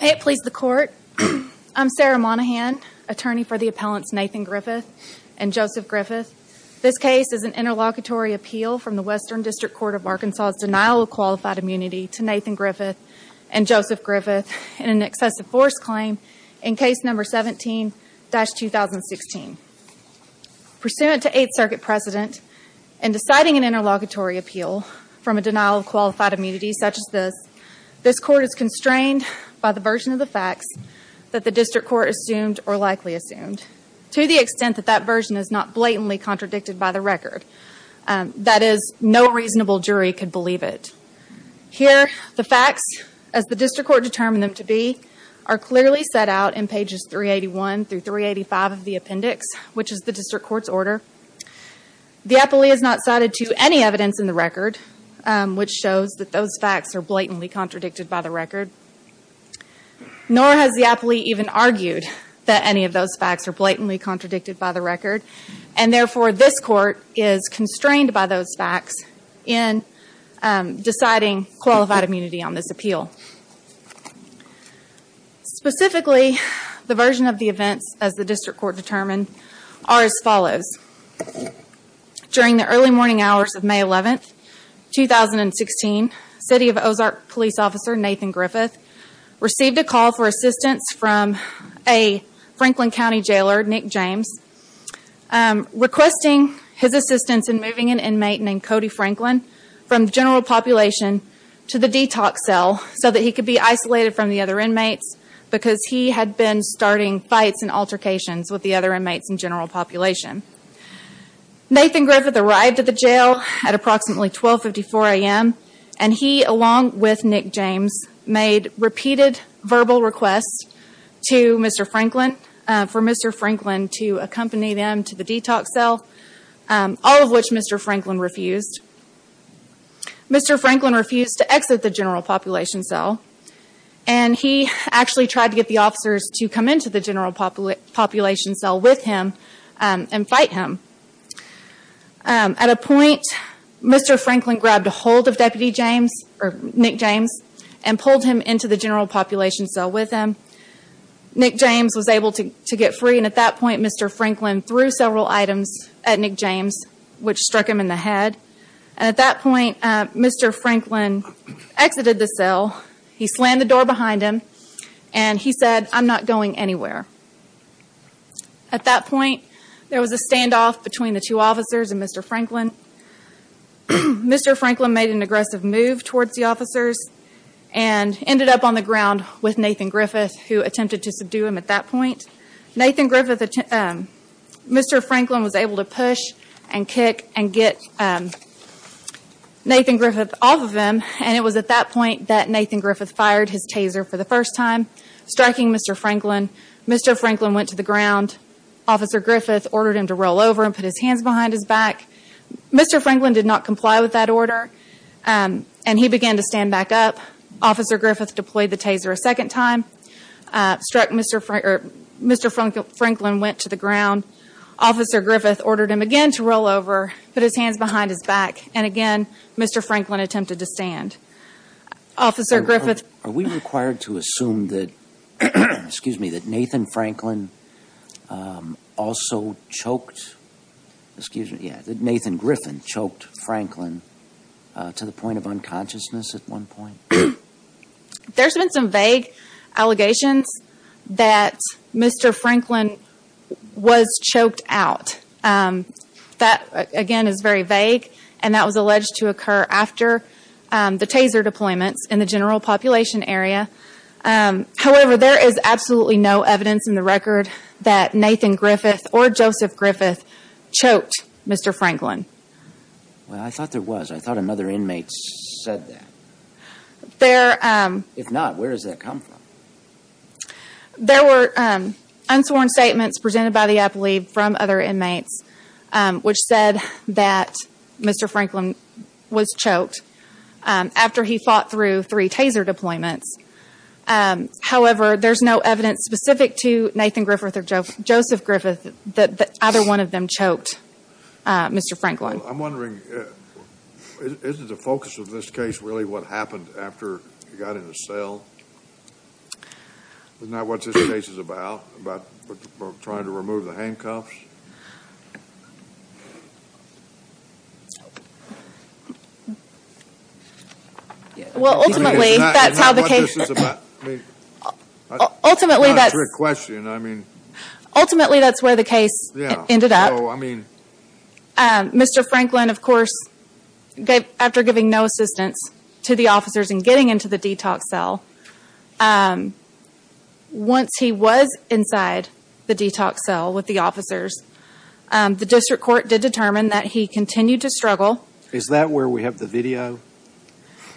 May it please the court, I'm Sarah Monaghan, attorney for the appellants Nathan Griffith and Joseph Griffith. This case is an interlocutory appeal from the Western District Court of Arkansas' denial of qualified immunity to Nathan Griffith and Joseph Griffith in an excessive force claim in case number 17-2016. Pursuant to Eighth Circuit precedent, in deciding an interlocutory appeal from a denial of qualified immunity such as this, this court is constrained by the version of the facts that the district court assumed or likely assumed, to the extent that that version is not blatantly contradicted by the record. That is, no reasonable jury could believe it. Here, the facts, as the district court determined them to be, are clearly set out in pages 381-385 of the appendix, which is the district court's order. The appellee is not cited to any evidence in the record, which shows that those facts are blatantly contradicted by the record. Nor has the appellee even argued that any of those facts are blatantly in deciding qualified immunity on this appeal. Specifically, the version of the events, as the district court determined, are as follows. During the early morning hours of May 11th, 2016, City of Ozark Police Officer Nathan Griffith received a call for assistance from a Franklin County jailer, Nick James, requesting his assistance in moving an inmate named Cody Franklin from the general population to the detox cell so that he could be isolated from the other inmates because he had been starting fights and altercations with the other inmates in general population. Nathan Griffith arrived at the jail at approximately 1254 a.m. and he, along with Nick James, made repeated verbal requests to Mr. Franklin for Mr. Franklin to accompany them to the detox cell, all of which Mr. Franklin refused. Mr. Franklin refused to exit the general population cell and he actually tried to get the officers to come into the general population cell with him and fight him. At a point, Mr. Franklin grabbed hold of Nick James and pulled him into the general population cell with him. Nick James was able to get free and at that point, Mr. Franklin threw several items at Nick James, which struck him in the head. At that point, Mr. Franklin exited the cell. He slammed the door behind him and he said, I'm not going anywhere. At that point, there was a stand and Franklin made an aggressive move towards the officers and ended up on the ground with Nathan Griffith, who attempted to subdue him at that point. Mr. Franklin was able to push and kick and get Nathan Griffith off of him and it was at that point that Nathan Griffith fired his taser for the first time, striking Mr. Franklin. Mr. Franklin went to the ground. Officer Griffith ordered him to roll over and put his hands behind his back. Mr. Franklin did not comply with that order and he began to stand back up. Officer Griffith deployed the taser a second time, struck Mr. Franklin, went to the ground. Officer Griffith ordered him again to roll over, put his hands behind his back, and again, Mr. Franklin attempted to stand. Officer Griffith... Are we required to assume that Nathan Franklin also choked, excuse me, that Nathan Griffin choked Franklin to the point of unconsciousness at one point? There's been some vague allegations that Mr. Franklin was choked out. That, again, is very vague and that was alleged to occur after the taser deployments in the general population area. However, there is absolutely no evidence in the record that Nathan Griffith or Joseph Griffin choked Mr. Franklin. I thought there was. I thought another inmate said that. If not, where does that come from? There were unsworn statements presented by the appellate from other inmates which said that Mr. Franklin was choked after he fought through three taser deployments. However, there's no evidence specific to Nathan Griffith or Joseph Griffith that either one of them choked Mr. Franklin. I'm wondering, isn't the focus of this case really what happened after he got in the cell? Isn't that what this case is about, about trying to remove the handcuffs? Well, ultimately, that's how the case... Isn't that what this is about? Ultimately, that's... It's not a trick question. I mean... Ultimately, that's where the case ended up. Mr. Franklin, of course, after giving no assistance to the officers in getting into the detox cell, once he was inside the detox cell with the officers, the district court did determine that he continued to struggle... Is that where we have the video?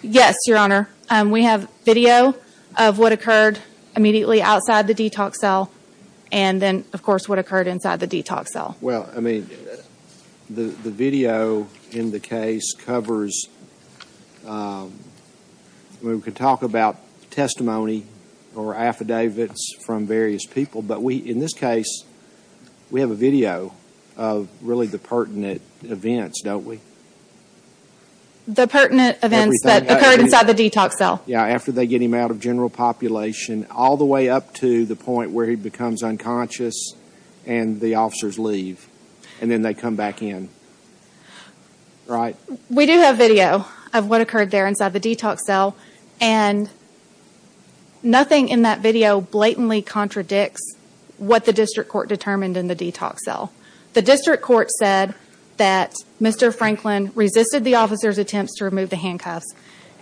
Yes, Your Honor. We have video of what occurred immediately outside the detox cell and then, of course, what occurred inside the detox cell. Well, I mean, the video in the case covers... I mean, we could talk about testimony or affidavits from various people, but we, in this case, we have a video of really the pertinent events, don't we? The pertinent events that occurred inside the detox cell. Yeah, after they get him out of general population, all the way up to the point where he becomes unconscious and the officers leave and then they come back in, right? We do have video of what occurred there inside the detox cell and nothing in that video blatantly contradicts what the district court determined in the detox cell. The district court said that Mr. Franklin resisted the officers' attempts to remove the handcuffs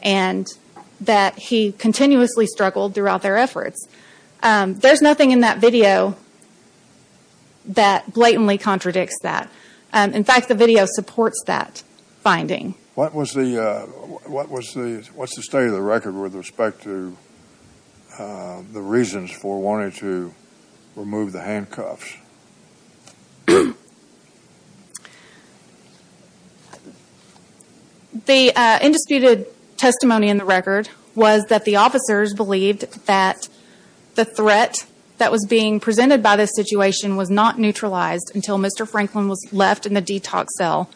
and that he continuously struggled throughout their efforts. There's nothing in that video that blatantly contradicts that. In fact, the video supports that finding. What was the state of the record with respect to the reasons for wanting to remove the handcuffs? The indisputed testimony in the record was that the officers believed that the threat that was being presented by this situation was not neutralized until Mr. Franklin was left in the detox cell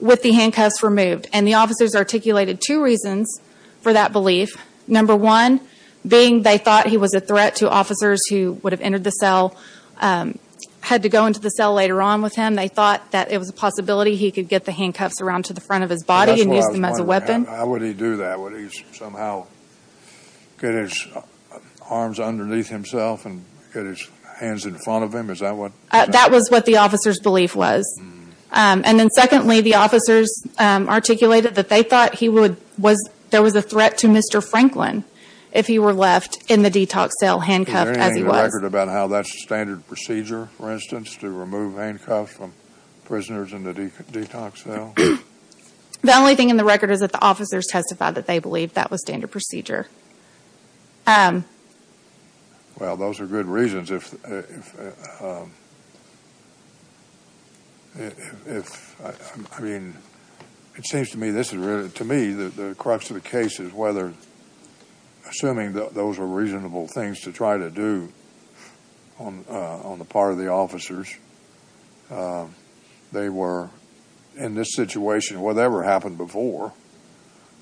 with the handcuffs removed. The officers articulated two reasons for that belief. Number one, being they thought he was a threat to officers who would have entered the cell, had to go into the cell later on with him. They thought that it was a possibility he could get the handcuffs around to the front of his body and use them as a weapon. How would he do that? Would he somehow get his arms underneath himself and get his hands in front of him? That was what the officers' belief was. And then secondly, the officers articulated that they thought there was a threat to Mr. Franklin if he were left in the detox cell handcuffed as he was. Is there anything in the record about how that's standard procedure, for instance, to remove handcuffs from prisoners in the detox cell? The only thing in the record is that the officers testified that they believed that was standard procedure. Well, those are good reasons. If, I mean, it seems to me this is really, to me, the crux of the case is whether the assuming those were reasonable things to try to do on the part of the officers, they were in this situation, whatever happened before,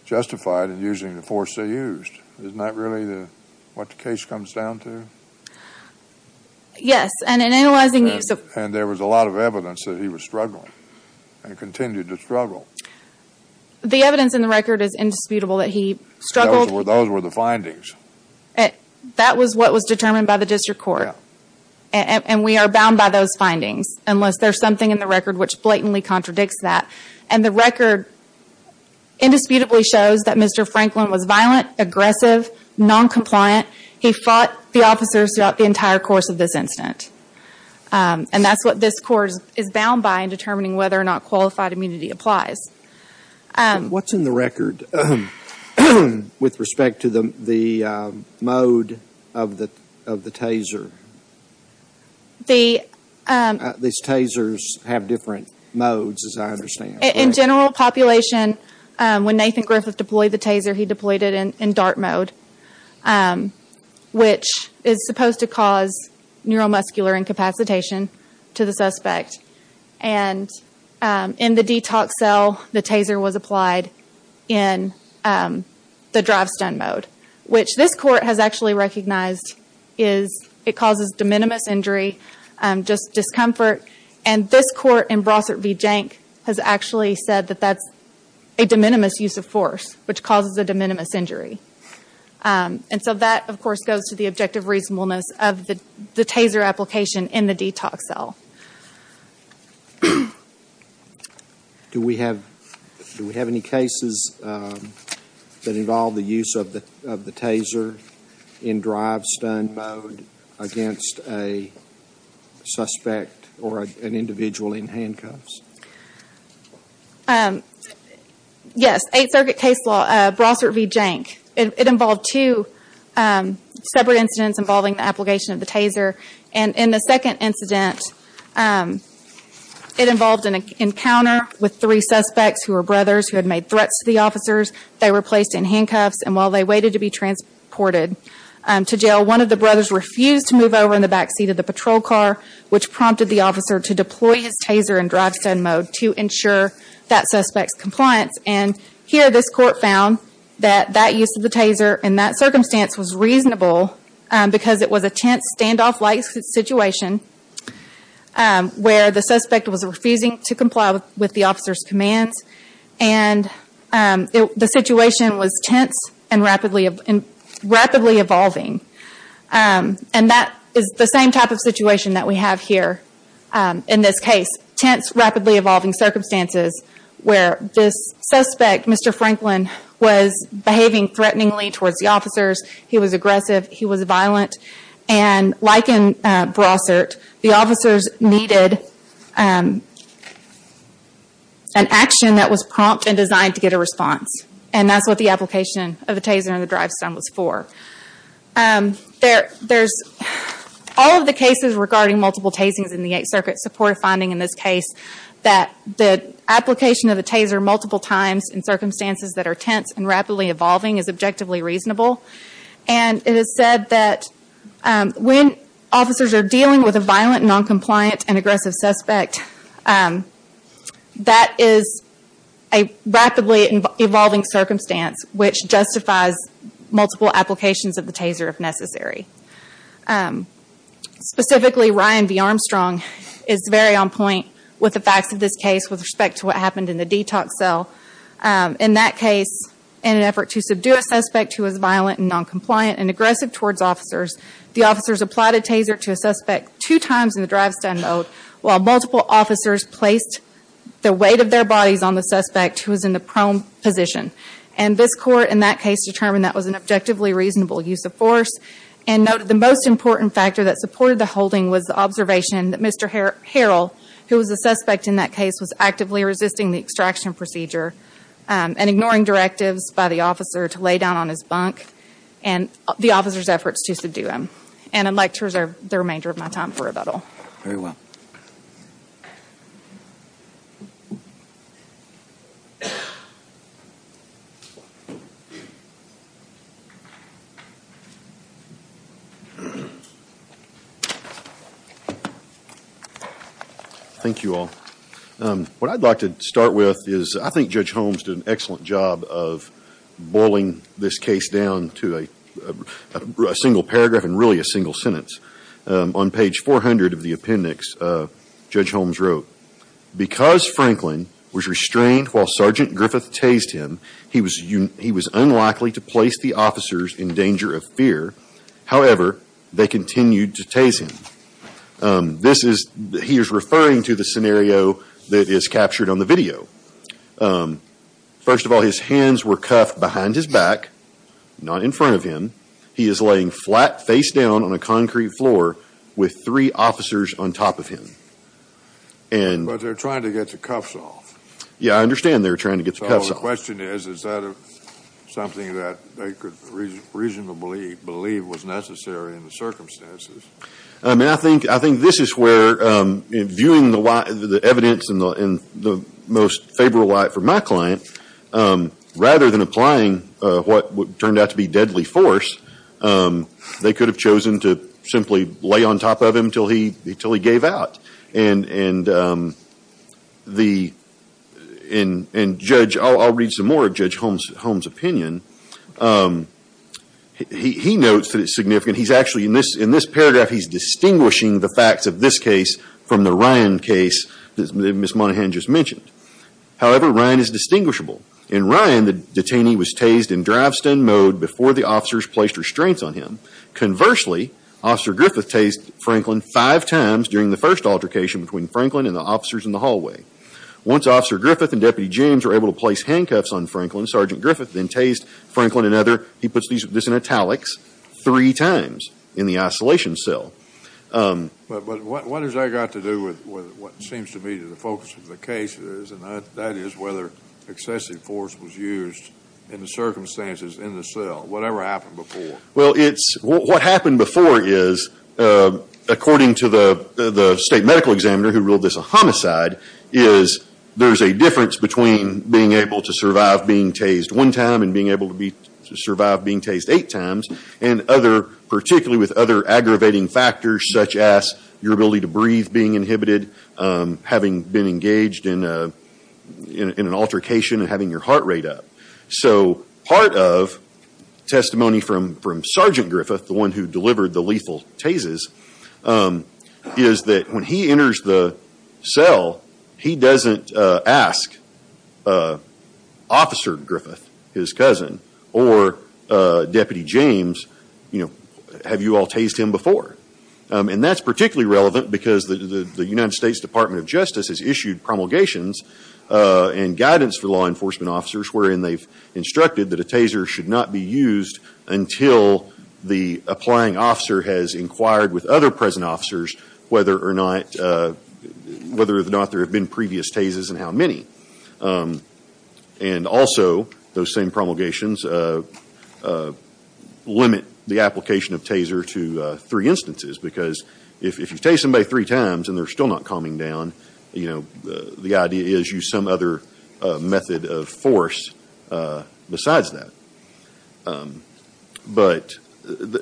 justified in using the force they used. Isn't that really what the case comes down to? Yes. And in analyzing... And there was a lot of evidence that he was struggling and continued to struggle. The evidence in the record is indisputable that he struggled. Those were the findings. That was what was determined by the district court. And we are bound by those findings, unless there's something in the record which blatantly contradicts that. And the record indisputably shows that Mr. Franklin was violent, aggressive, noncompliant. He fought the officers throughout the entire course of this incident. And that's what this court is bound by in determining whether or not qualified immunity applies. What's in the record with respect to the mode of the taser? These tasers have different modes, as I understand. In general population, when Nathan Griffith deployed the taser, he deployed it in dart mode, which is supposed to cause neuromuscular incapacitation to the suspect. And in the detox cell, the taser was applied in the drive stun mode, which this court has actually recognized is it causes de minimis injury, just discomfort. And this court in Brossard v. Jank has actually said that that's a de minimis use of force, which causes a de minimis injury. And so that, of course, goes to the objective reasonableness of the taser application in a detox cell. Do we have any cases that involve the use of the taser in drive stun mode against a suspect or an individual in handcuffs? Yes, Eighth Circuit case law, Brossard v. Jank. It involved two separate incidents involving the application of the taser. And in the second incident, it involved an encounter with three suspects who were brothers who had made threats to the officers. They were placed in handcuffs, and while they waited to be transported to jail, one of the brothers refused to move over in the back seat of the patrol car, which prompted the officer to deploy his taser in drive stun mode to ensure that suspect's compliance. And here this court found that that use of the taser in that circumstance was reasonable because it was a tense, standoff-like situation where the suspect was refusing to comply with the officer's commands, and the situation was tense and rapidly evolving. And that is the same type of situation that we have here in this case, tense, rapidly evolving circumstances where this suspect, Mr. Franklin, was behaving threateningly towards the officers, he was aggressive, he was violent. And like in Brossard, the officers needed an action that was prompt and designed to get a response. And that's what the application of the taser in the drive stun was for. There's all of the cases regarding multiple tasings in the Eighth Circuit support finding in this case that the application of the taser multiple times in circumstances that are tense and rapidly evolving is objectively reasonable. And it is said that when officers are dealing with a violent, non-compliant, and aggressive suspect, that is a rapidly evolving circumstance which justifies multiple applications of the taser if necessary. Specifically, Ryan V. Armstrong is very on point with the facts of this case with respect to what happened in the detox cell. In that case, in an effort to subdue a suspect who was violent and non-compliant and aggressive towards officers, the officers applied a taser to a suspect two times in the drive stun mode while multiple officers placed the weight of their bodies on the suspect who was in the prone position. And this court in that case determined that was an objectively reasonable use of force and noted the most important factor that supported the holding was the observation that Mr. Harrell, who was the suspect in that case, was actively resisting the extraction procedure and ignoring directives by the officer to lay down on his bunk and the officer's efforts to subdue him. And I'd like to reserve the remainder of my time for rebuttal. Very well. Thank you all. What I'd like to start with is I think Judge Holmes did an excellent job of boiling this case down to a single paragraph and really a single sentence. On page 400 of the appendix, Judge Holmes wrote, because Franklin was restrained while Sergeant Griffith tased him, he was unlikely to place the officers in danger of fear. However, they continued to tase him. This is, he is referring to the scenario that is captured on the video. First of all, his hands were cuffed behind his back, not in front of him. He is laying flat face down on a concrete floor with three officers on top of him. But they're trying to get the cuffs off. Yeah, I understand they're trying to get the cuffs off. So the question is, is that something that they could reasonably believe was necessary in the circumstances? I mean, I think this is where viewing the evidence in the most favorable light for my client, rather than applying what turned out to be deadly force, they could have chosen to simply lay on top of him until he gave out. And the, and Judge, I'll read some more of Judge Holmes' opinion. He notes that it's significant. And he's actually, in this paragraph, he's distinguishing the facts of this case from the Ryan case that Ms. Monahan just mentioned. However, Ryan is distinguishable. In Ryan, the detainee was tased in drive-stun mode before the officers placed restraints on him. Conversely, Officer Griffith tased Franklin five times during the first altercation between Franklin and the officers in the hallway. Once Officer Griffith and Deputy James were able to place handcuffs on Franklin, Sergeant Griffith then tased Franklin another, he puts these, this in italics, three times in the isolation cell. But what has that got to do with what seems to me to the focus of the case is, and that is whether excessive force was used in the circumstances in the cell, whatever happened before? Well, it's, what happened before is, according to the state medical examiner who ruled this a homicide, is there's a difference between being able to survive being tased one time and being able to survive being tased eight times, and other, particularly with other aggravating factors such as your ability to breathe being inhibited, having been engaged in an altercation and having your heart rate up. So part of testimony from Sergeant Griffith, the one who delivered the lethal tases, is that when he enters the cell, he doesn't ask Officer Griffith, his cousin, or Deputy James, you know, have you all tased him before? And that's particularly relevant because the United States Department of Justice has issued promulgations and guidance for law enforcement officers wherein they've instructed that a taser should not be used until the applying officer has inquired with other present officers whether or not, whether or not there have been previous tases and how many. And also, those same promulgations limit the application of taser to three instances because if you've tased somebody three times and they're still not calming down, you know, the idea is use some other method of force besides that. But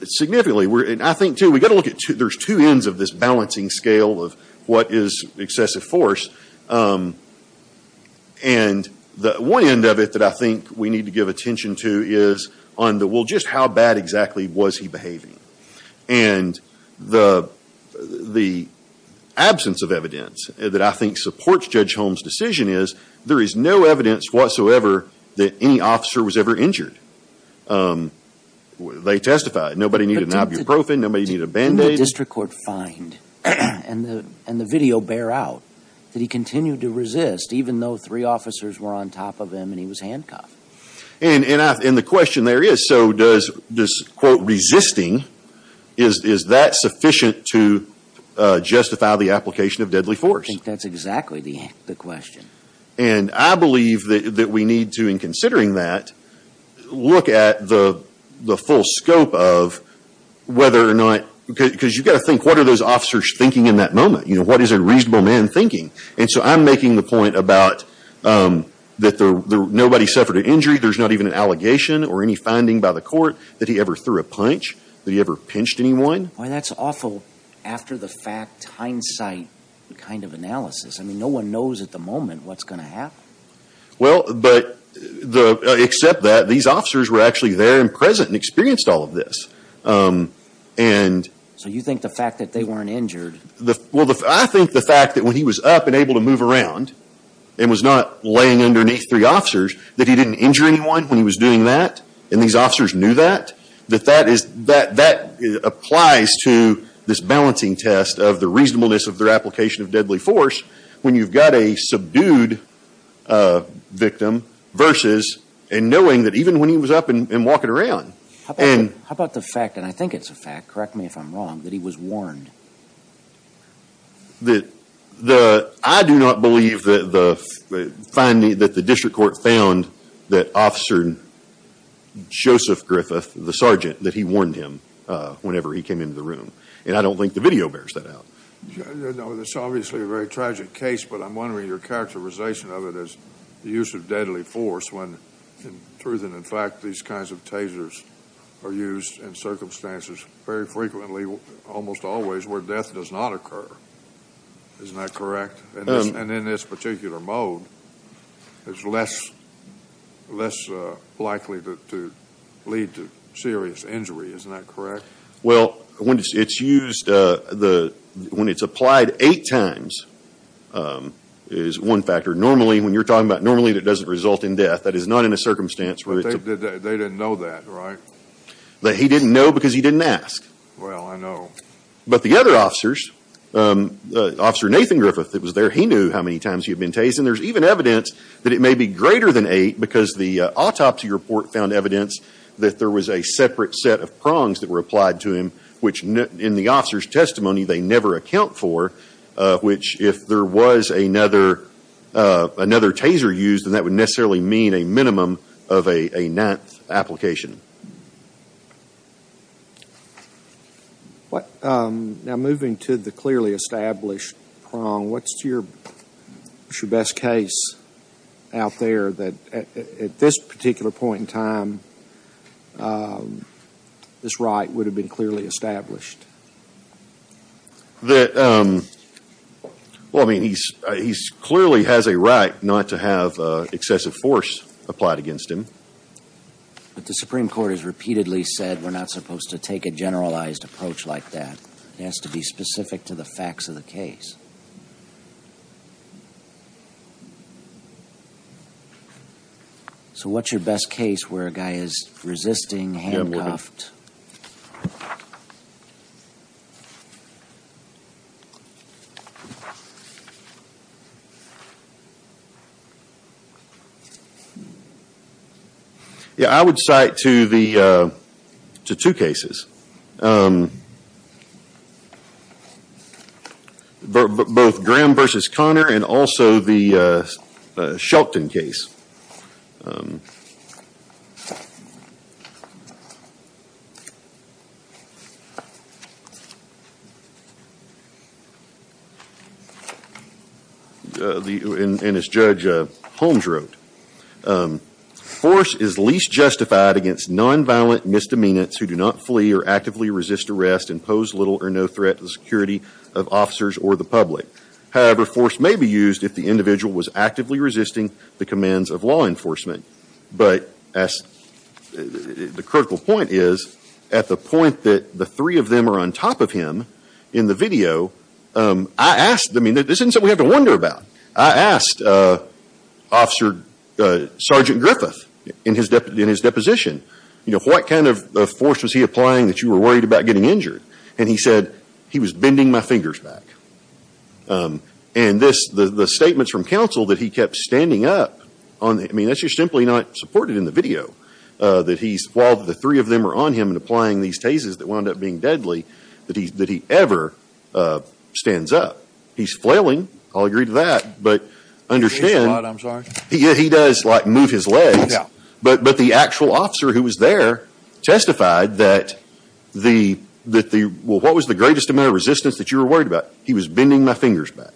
significantly, I think, too, we've got to look at, there's two ends of this balancing scale of what is excessive force. And the one end of it that I think we need to give attention to is on the, well, just how bad exactly was he behaving? And the absence of evidence that I think supports Judge Holmes' decision is there is no evidence whatsoever that any officer was ever injured. They testified. Nobody needed ibuprofen. Nobody needed a Band-Aid. Didn't the district court find, and the video bear out, that he continued to resist even though three officers were on top of him and he was handcuffed? And the question there is, so does this, quote, resisting, is that sufficient to justify the application of deadly force? I think that's exactly the question. And I believe that we need to, in considering that, look at the full scope of whether or not, because you've got to think, what are those officers thinking in that moment? You know, what is a reasonable man thinking? And so I'm making the point about that nobody suffered an injury. There's not even an allegation or any finding by the court that he ever threw a punch, that he ever pinched anyone. Boy, that's awful. After the fact hindsight kind of analysis. I mean, no one knows at the moment what's going to happen. Well, but, except that, these officers were actually there and present and experienced all of this. And... So you think the fact that they weren't injured... Well, I think the fact that when he was up and able to move around, and was not laying underneath three officers, that he didn't injure anyone when he was doing that, and these officers knew that, that that is, that applies to this balancing test of the reasonableness of their application of deadly force, when you've got a subdued victim versus, and knowing that even when he was up and walking around, and... How about the fact, and I think it's a fact, correct me if I'm wrong, that he was warned? The... The... I do not believe the finding that the district court found that Officer Joseph Griffith, the sergeant, that he warned him whenever he came into the room, and I don't think the It's obviously a very tragic case, but I'm wondering your characterization of it as the use of deadly force when, in truth and in fact, these kinds of tasers are used in circumstances very frequently, almost always, where death does not occur, isn't that correct? And in this particular mode, it's less, less likely to lead to serious injury, isn't that correct? Well, when it's used, when it's applied eight times, is one factor. Normally, when you're talking about normally, it doesn't result in death, that is not in a circumstance where it's... But they didn't know that, right? That he didn't know because he didn't ask. Well, I know. But the other officers, Officer Nathan Griffith that was there, he knew how many times he had been tasered, and there's even evidence that it may be greater than eight, because the autopsy report found evidence that there was a separate set of prongs that were applied to him, which in the officer's testimony, they never account for, which if there was another taser used, then that would necessarily mean a minimum of a ninth application. Now, moving to the clearly established prong, what's your best case out there that at this particular point in time, this right would have been clearly established? Well, I mean, he clearly has a right not to have excessive force applied against him. But the Supreme Court has repeatedly said, we're not supposed to take a generalized approach like that. It has to be specific to the facts of the case. So what's your best case where a guy is resisting, handcuffed... Yeah, I would cite to two cases, both Graham v. Connor and also the Shelton case, and as against nonviolent misdemeanors who do not flee or actively resist arrest and pose little or no threat to the security of officers or the public. However, force may be used if the individual was actively resisting the commands of law enforcement. But the critical point is, at the point that the three of them are on top of him in the video, I asked... I mean, this isn't something we have to wonder about. I asked Officer Sergeant Griffith in his deposition, you know, what kind of force was he applying that you were worried about getting injured? And he said, he was bending my fingers back. And this, the statements from counsel that he kept standing up, I mean, that's just simply not supported in the video that he's, while the three of them are on him and applying these cases that wound up being deadly, that he ever stands up. He's flailing. I'll agree to that. He is flailing, I'm sorry. Yeah, he does, like, move his legs. But the actual officer who was there testified that the, that the, well, what was the greatest amount of resistance that you were worried about? He was bending my fingers back.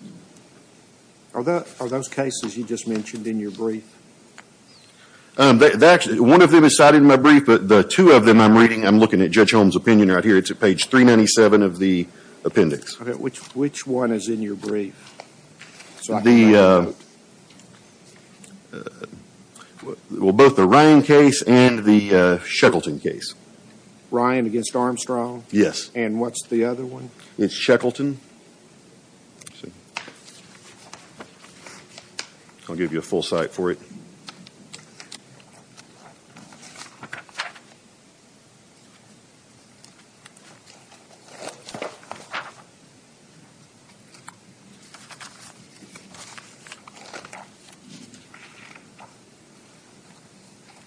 Are those cases you just mentioned in your brief? They actually, one of them is cited in my brief, but the two of them I'm reading, I'm looking at Judge Holmes' opinion right here, it's at page 397 of the appendix. Okay, which, which one is in your brief? The, well, both the Ryan case and the Sheckleton case. Ryan against Armstrong? Yes. And what's the other one? It's Sheckleton. I'll give you a full cite for it.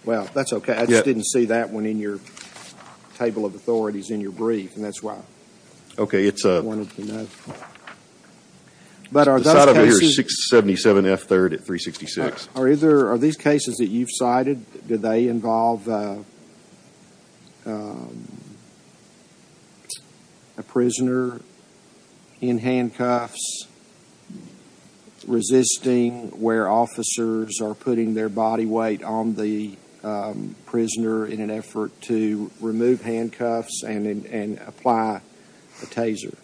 Well, that's okay, I just didn't see that one in your table of authorities in your brief, and that's why I wanted to know. Okay, it's a, the cite up here is 677 F. 3rd at 366. Are either, are these cases that you've cited, do they involve a prisoner in handcuffs resisting where officers are putting their body weight on the prisoner in an effort to remove handcuffs and apply a taser?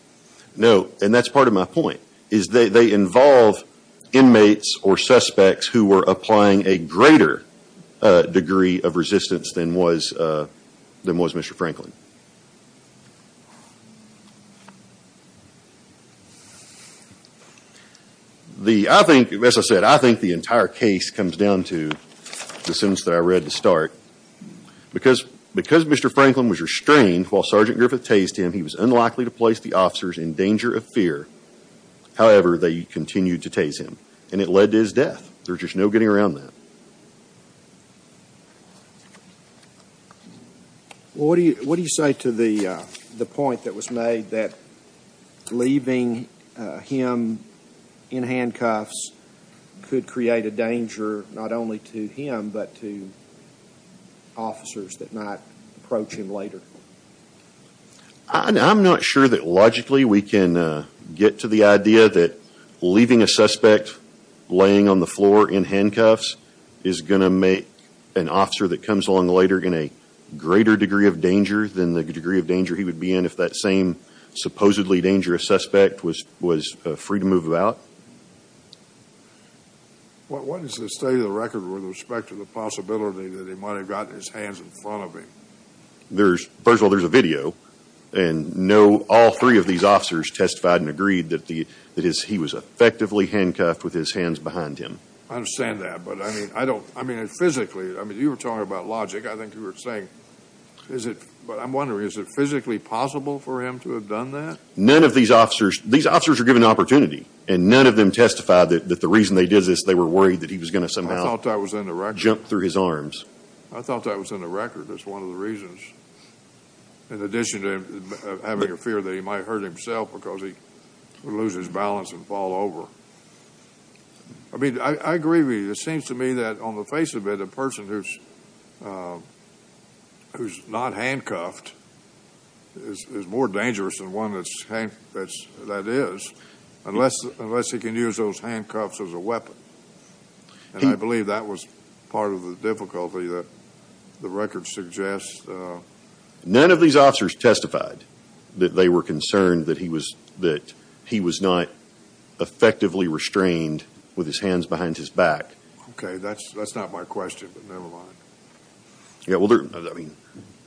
No, and that's part of my point. Is, they, they involve inmates or suspects who were applying a greater degree of resistance than was, than was Mr. Franklin. The, I think, as I said, I think the entire case comes down to the sentence that I read to start, because, because Mr. Franklin was restrained while Sergeant Griffith tased him, he was unlikely to place the officers in danger of fear, however, they continued to tase him. And it led to his death. There's just no getting around that. Well, what do you, what do you say to the point that was made that leaving him in handcuffs could create a danger, not only to him, but to officers that might approach him later? I, I'm not sure that logically we can get to the idea that leaving a suspect laying on the floor in handcuffs is going to make an officer that comes along later in a greater degree of danger than the degree of danger he would be in if that same supposedly dangerous suspect was, was free to move about. What is the state of the record with respect to the possibility that he might have gotten his hands in front of him? There's, first of all, there's a video, and no, all three of these officers testified and agreed that the, that he was effectively handcuffed with his hands behind him. I understand that, but I mean, I don't, I mean, physically, I mean, you were talking about logic, I think you were saying, is it, but I'm wondering, is it physically possible for him to have done that? None of these officers, these officers are given an opportunity, and none of them testified that the reason they did this, they were worried that he was going to somehow jump through his arms. I thought that was in the record as one of the reasons, in addition to having a fear that he might hurt himself because he would lose his balance and fall over. I mean, I agree with you, it seems to me that on the face of it, a person who's, who's not handcuffed is more dangerous than one that's, that is, unless, unless he can use those handcuffs as a weapon. And I believe that was part of the difficulty that the record suggests. None of these officers testified that they were concerned that he was, that he was not effectively restrained with his hands behind his back. Okay, that's, that's not my question, but never mind. Yeah, well, I mean,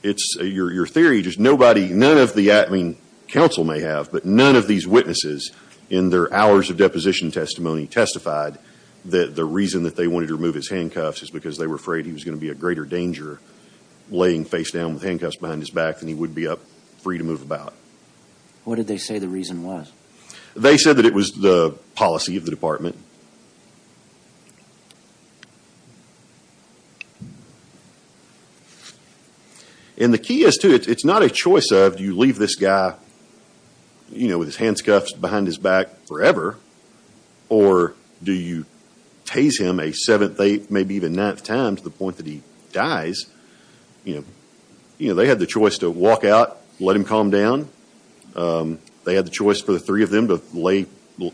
it's, your, your theory, just nobody, none of the, I mean, counsel may have, but none of these witnesses in their hours of deposition testimony testified that the reason that they wanted to remove his handcuffs is because they were afraid he was going to be a greater danger laying face down with handcuffs behind his back than he would be up free to move about. What did they say the reason was? They said that it was the policy of the department. And the key is to, it's not a choice of, do you leave this guy, you know, with his handcuffs behind his back forever? Or do you tase him a seventh, eighth, maybe even ninth time to the point that he dies? You know, you know, they had the choice to walk out, let him calm down. They had the choice for the three of them to lay,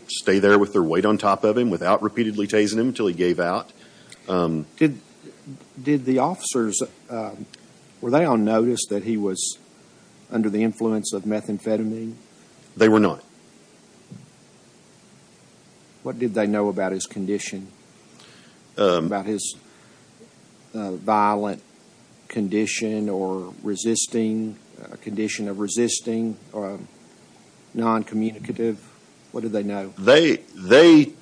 stay there with their weight on top of him without repeatedly tasing him until he gave out. Did the officers, were they on notice that he was under the influence of methamphetamine? They were not. What did they know about his condition, about his violent condition or resisting, a condition of resisting or non-communicative? What did they know? They, they,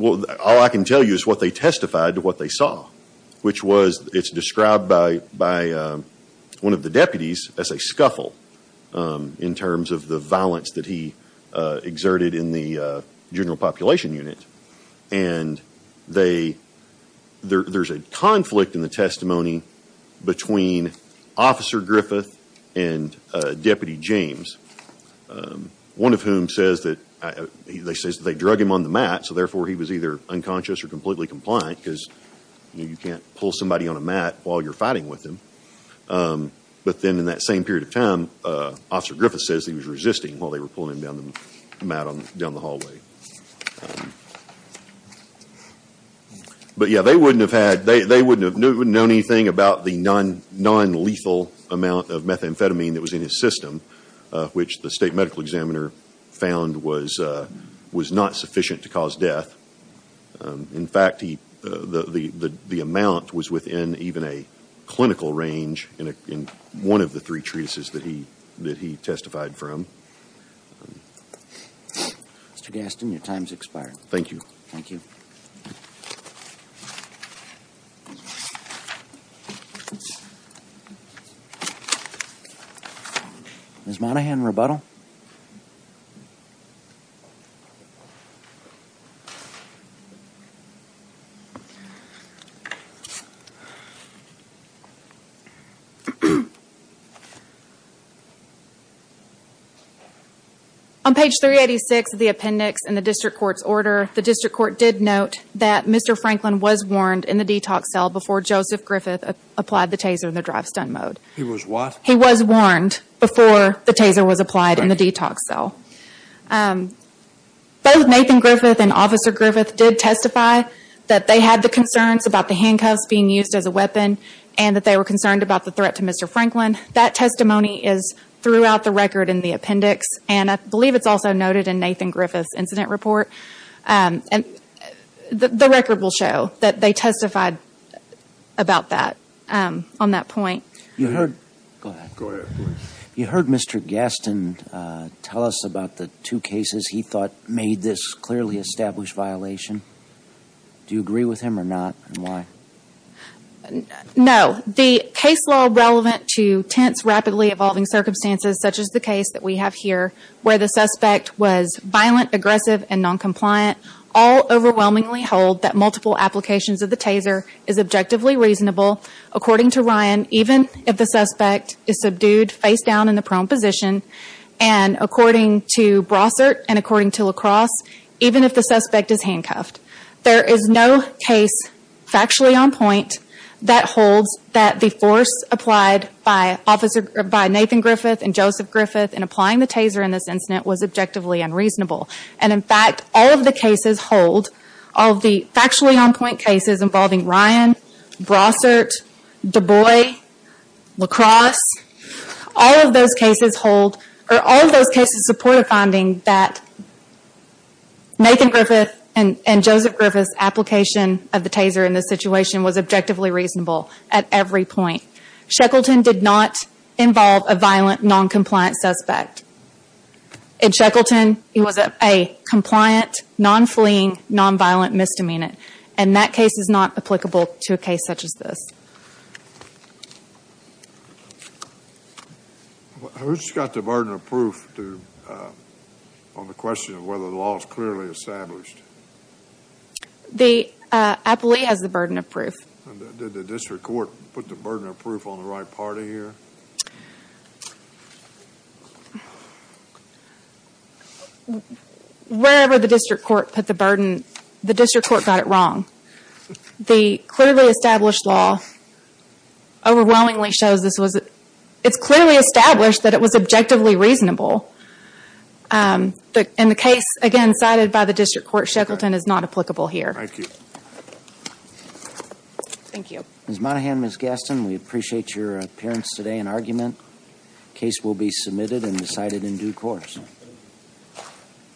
all I can tell you is what they testified to what they saw, which was, it's described by one of the deputies as a scuffle in terms of the violence that he exerted in the general population unit. And they, there's a conflict in the testimony between Officer Griffith and Deputy James, one of whom says that, they says that they drug him on the mat, so therefore he was either unconscious or completely compliant because, you know, you can't pull somebody on a mat while you're fighting with him. But then in that same period of time, Officer Griffith says he was resisting while they were pulling him down the mat, down the hallway. But yeah, they wouldn't have had, they wouldn't have known anything about the non-lethal amount of methamphetamine that was in his system, which the state medical examiner found was, was not sufficient to cause death. In fact, he, the, the, the amount was within even a clinical range in a, in one of the three treatises that he, that he testified from. Mr. Gaston, your time's expired. Thank you. Thank you. Ms. Monaghan, rebuttal. On page 386 of the appendix in the district court's order, the district court did note that Mr. Franklin was warned in the detox cell before Joseph Griffith applied the taser in the drive-stun mode. He was what? He was warned before the taser was applied in the detox cell. Both Nathan Griffith and Officer Griffith did testify that they had the concerns about the handcuffs being used as a weapon and that they were concerned about the threat to Mr. Franklin. That testimony is throughout the record in the appendix and I believe it's also noted in Nathan Griffith's incident report. And the, the record will show that they testified about that on that point. You heard, go ahead. You heard Mr. Gaston tell us about the two cases he thought made this clearly established violation. Do you agree with him or not and why? No. The case law relevant to tense, rapidly evolving circumstances such as the case that we have here where the suspect was violent, aggressive, and noncompliant all overwhelmingly hold that multiple applications of the taser is objectively reasonable. According to Ryan, even if the suspect is subdued face down in the prone position and according to Brossert and according to LaCrosse, even if the suspect is handcuffed. There is no case factually on point that holds that the force applied by Officer, by Nathan Griffith and Joseph Griffith in applying the taser in this incident was objectively unreasonable. And in fact, all of the cases hold, all the factually on point cases involving Ryan, Brossert, Dubois, LaCrosse, all of those cases hold, or all of those cases support a finding that Nathan Griffith and Joseph Griffith's application of the taser in this situation was objectively reasonable at every point. Shackleton did not involve a violent noncompliant suspect. In Shackleton, he was a compliant, non-fleeing, non-violent misdemeanant. And that case is not applicable to a case such as this. Who's got the burden of proof on the question of whether the law is clearly established? The appellee has the burden of proof. Did the district court put the burden of proof on the right party here? Wherever the district court put the burden, the district court got it wrong. The clearly established law overwhelmingly shows this was, it's clearly established that it was objectively reasonable. And the case, again, cited by the district court, Shackleton, is not applicable here. Thank you. Ms. Monahan, Ms. Gaston, we appreciate your appearance today. An argument case will be submitted and decided in due course.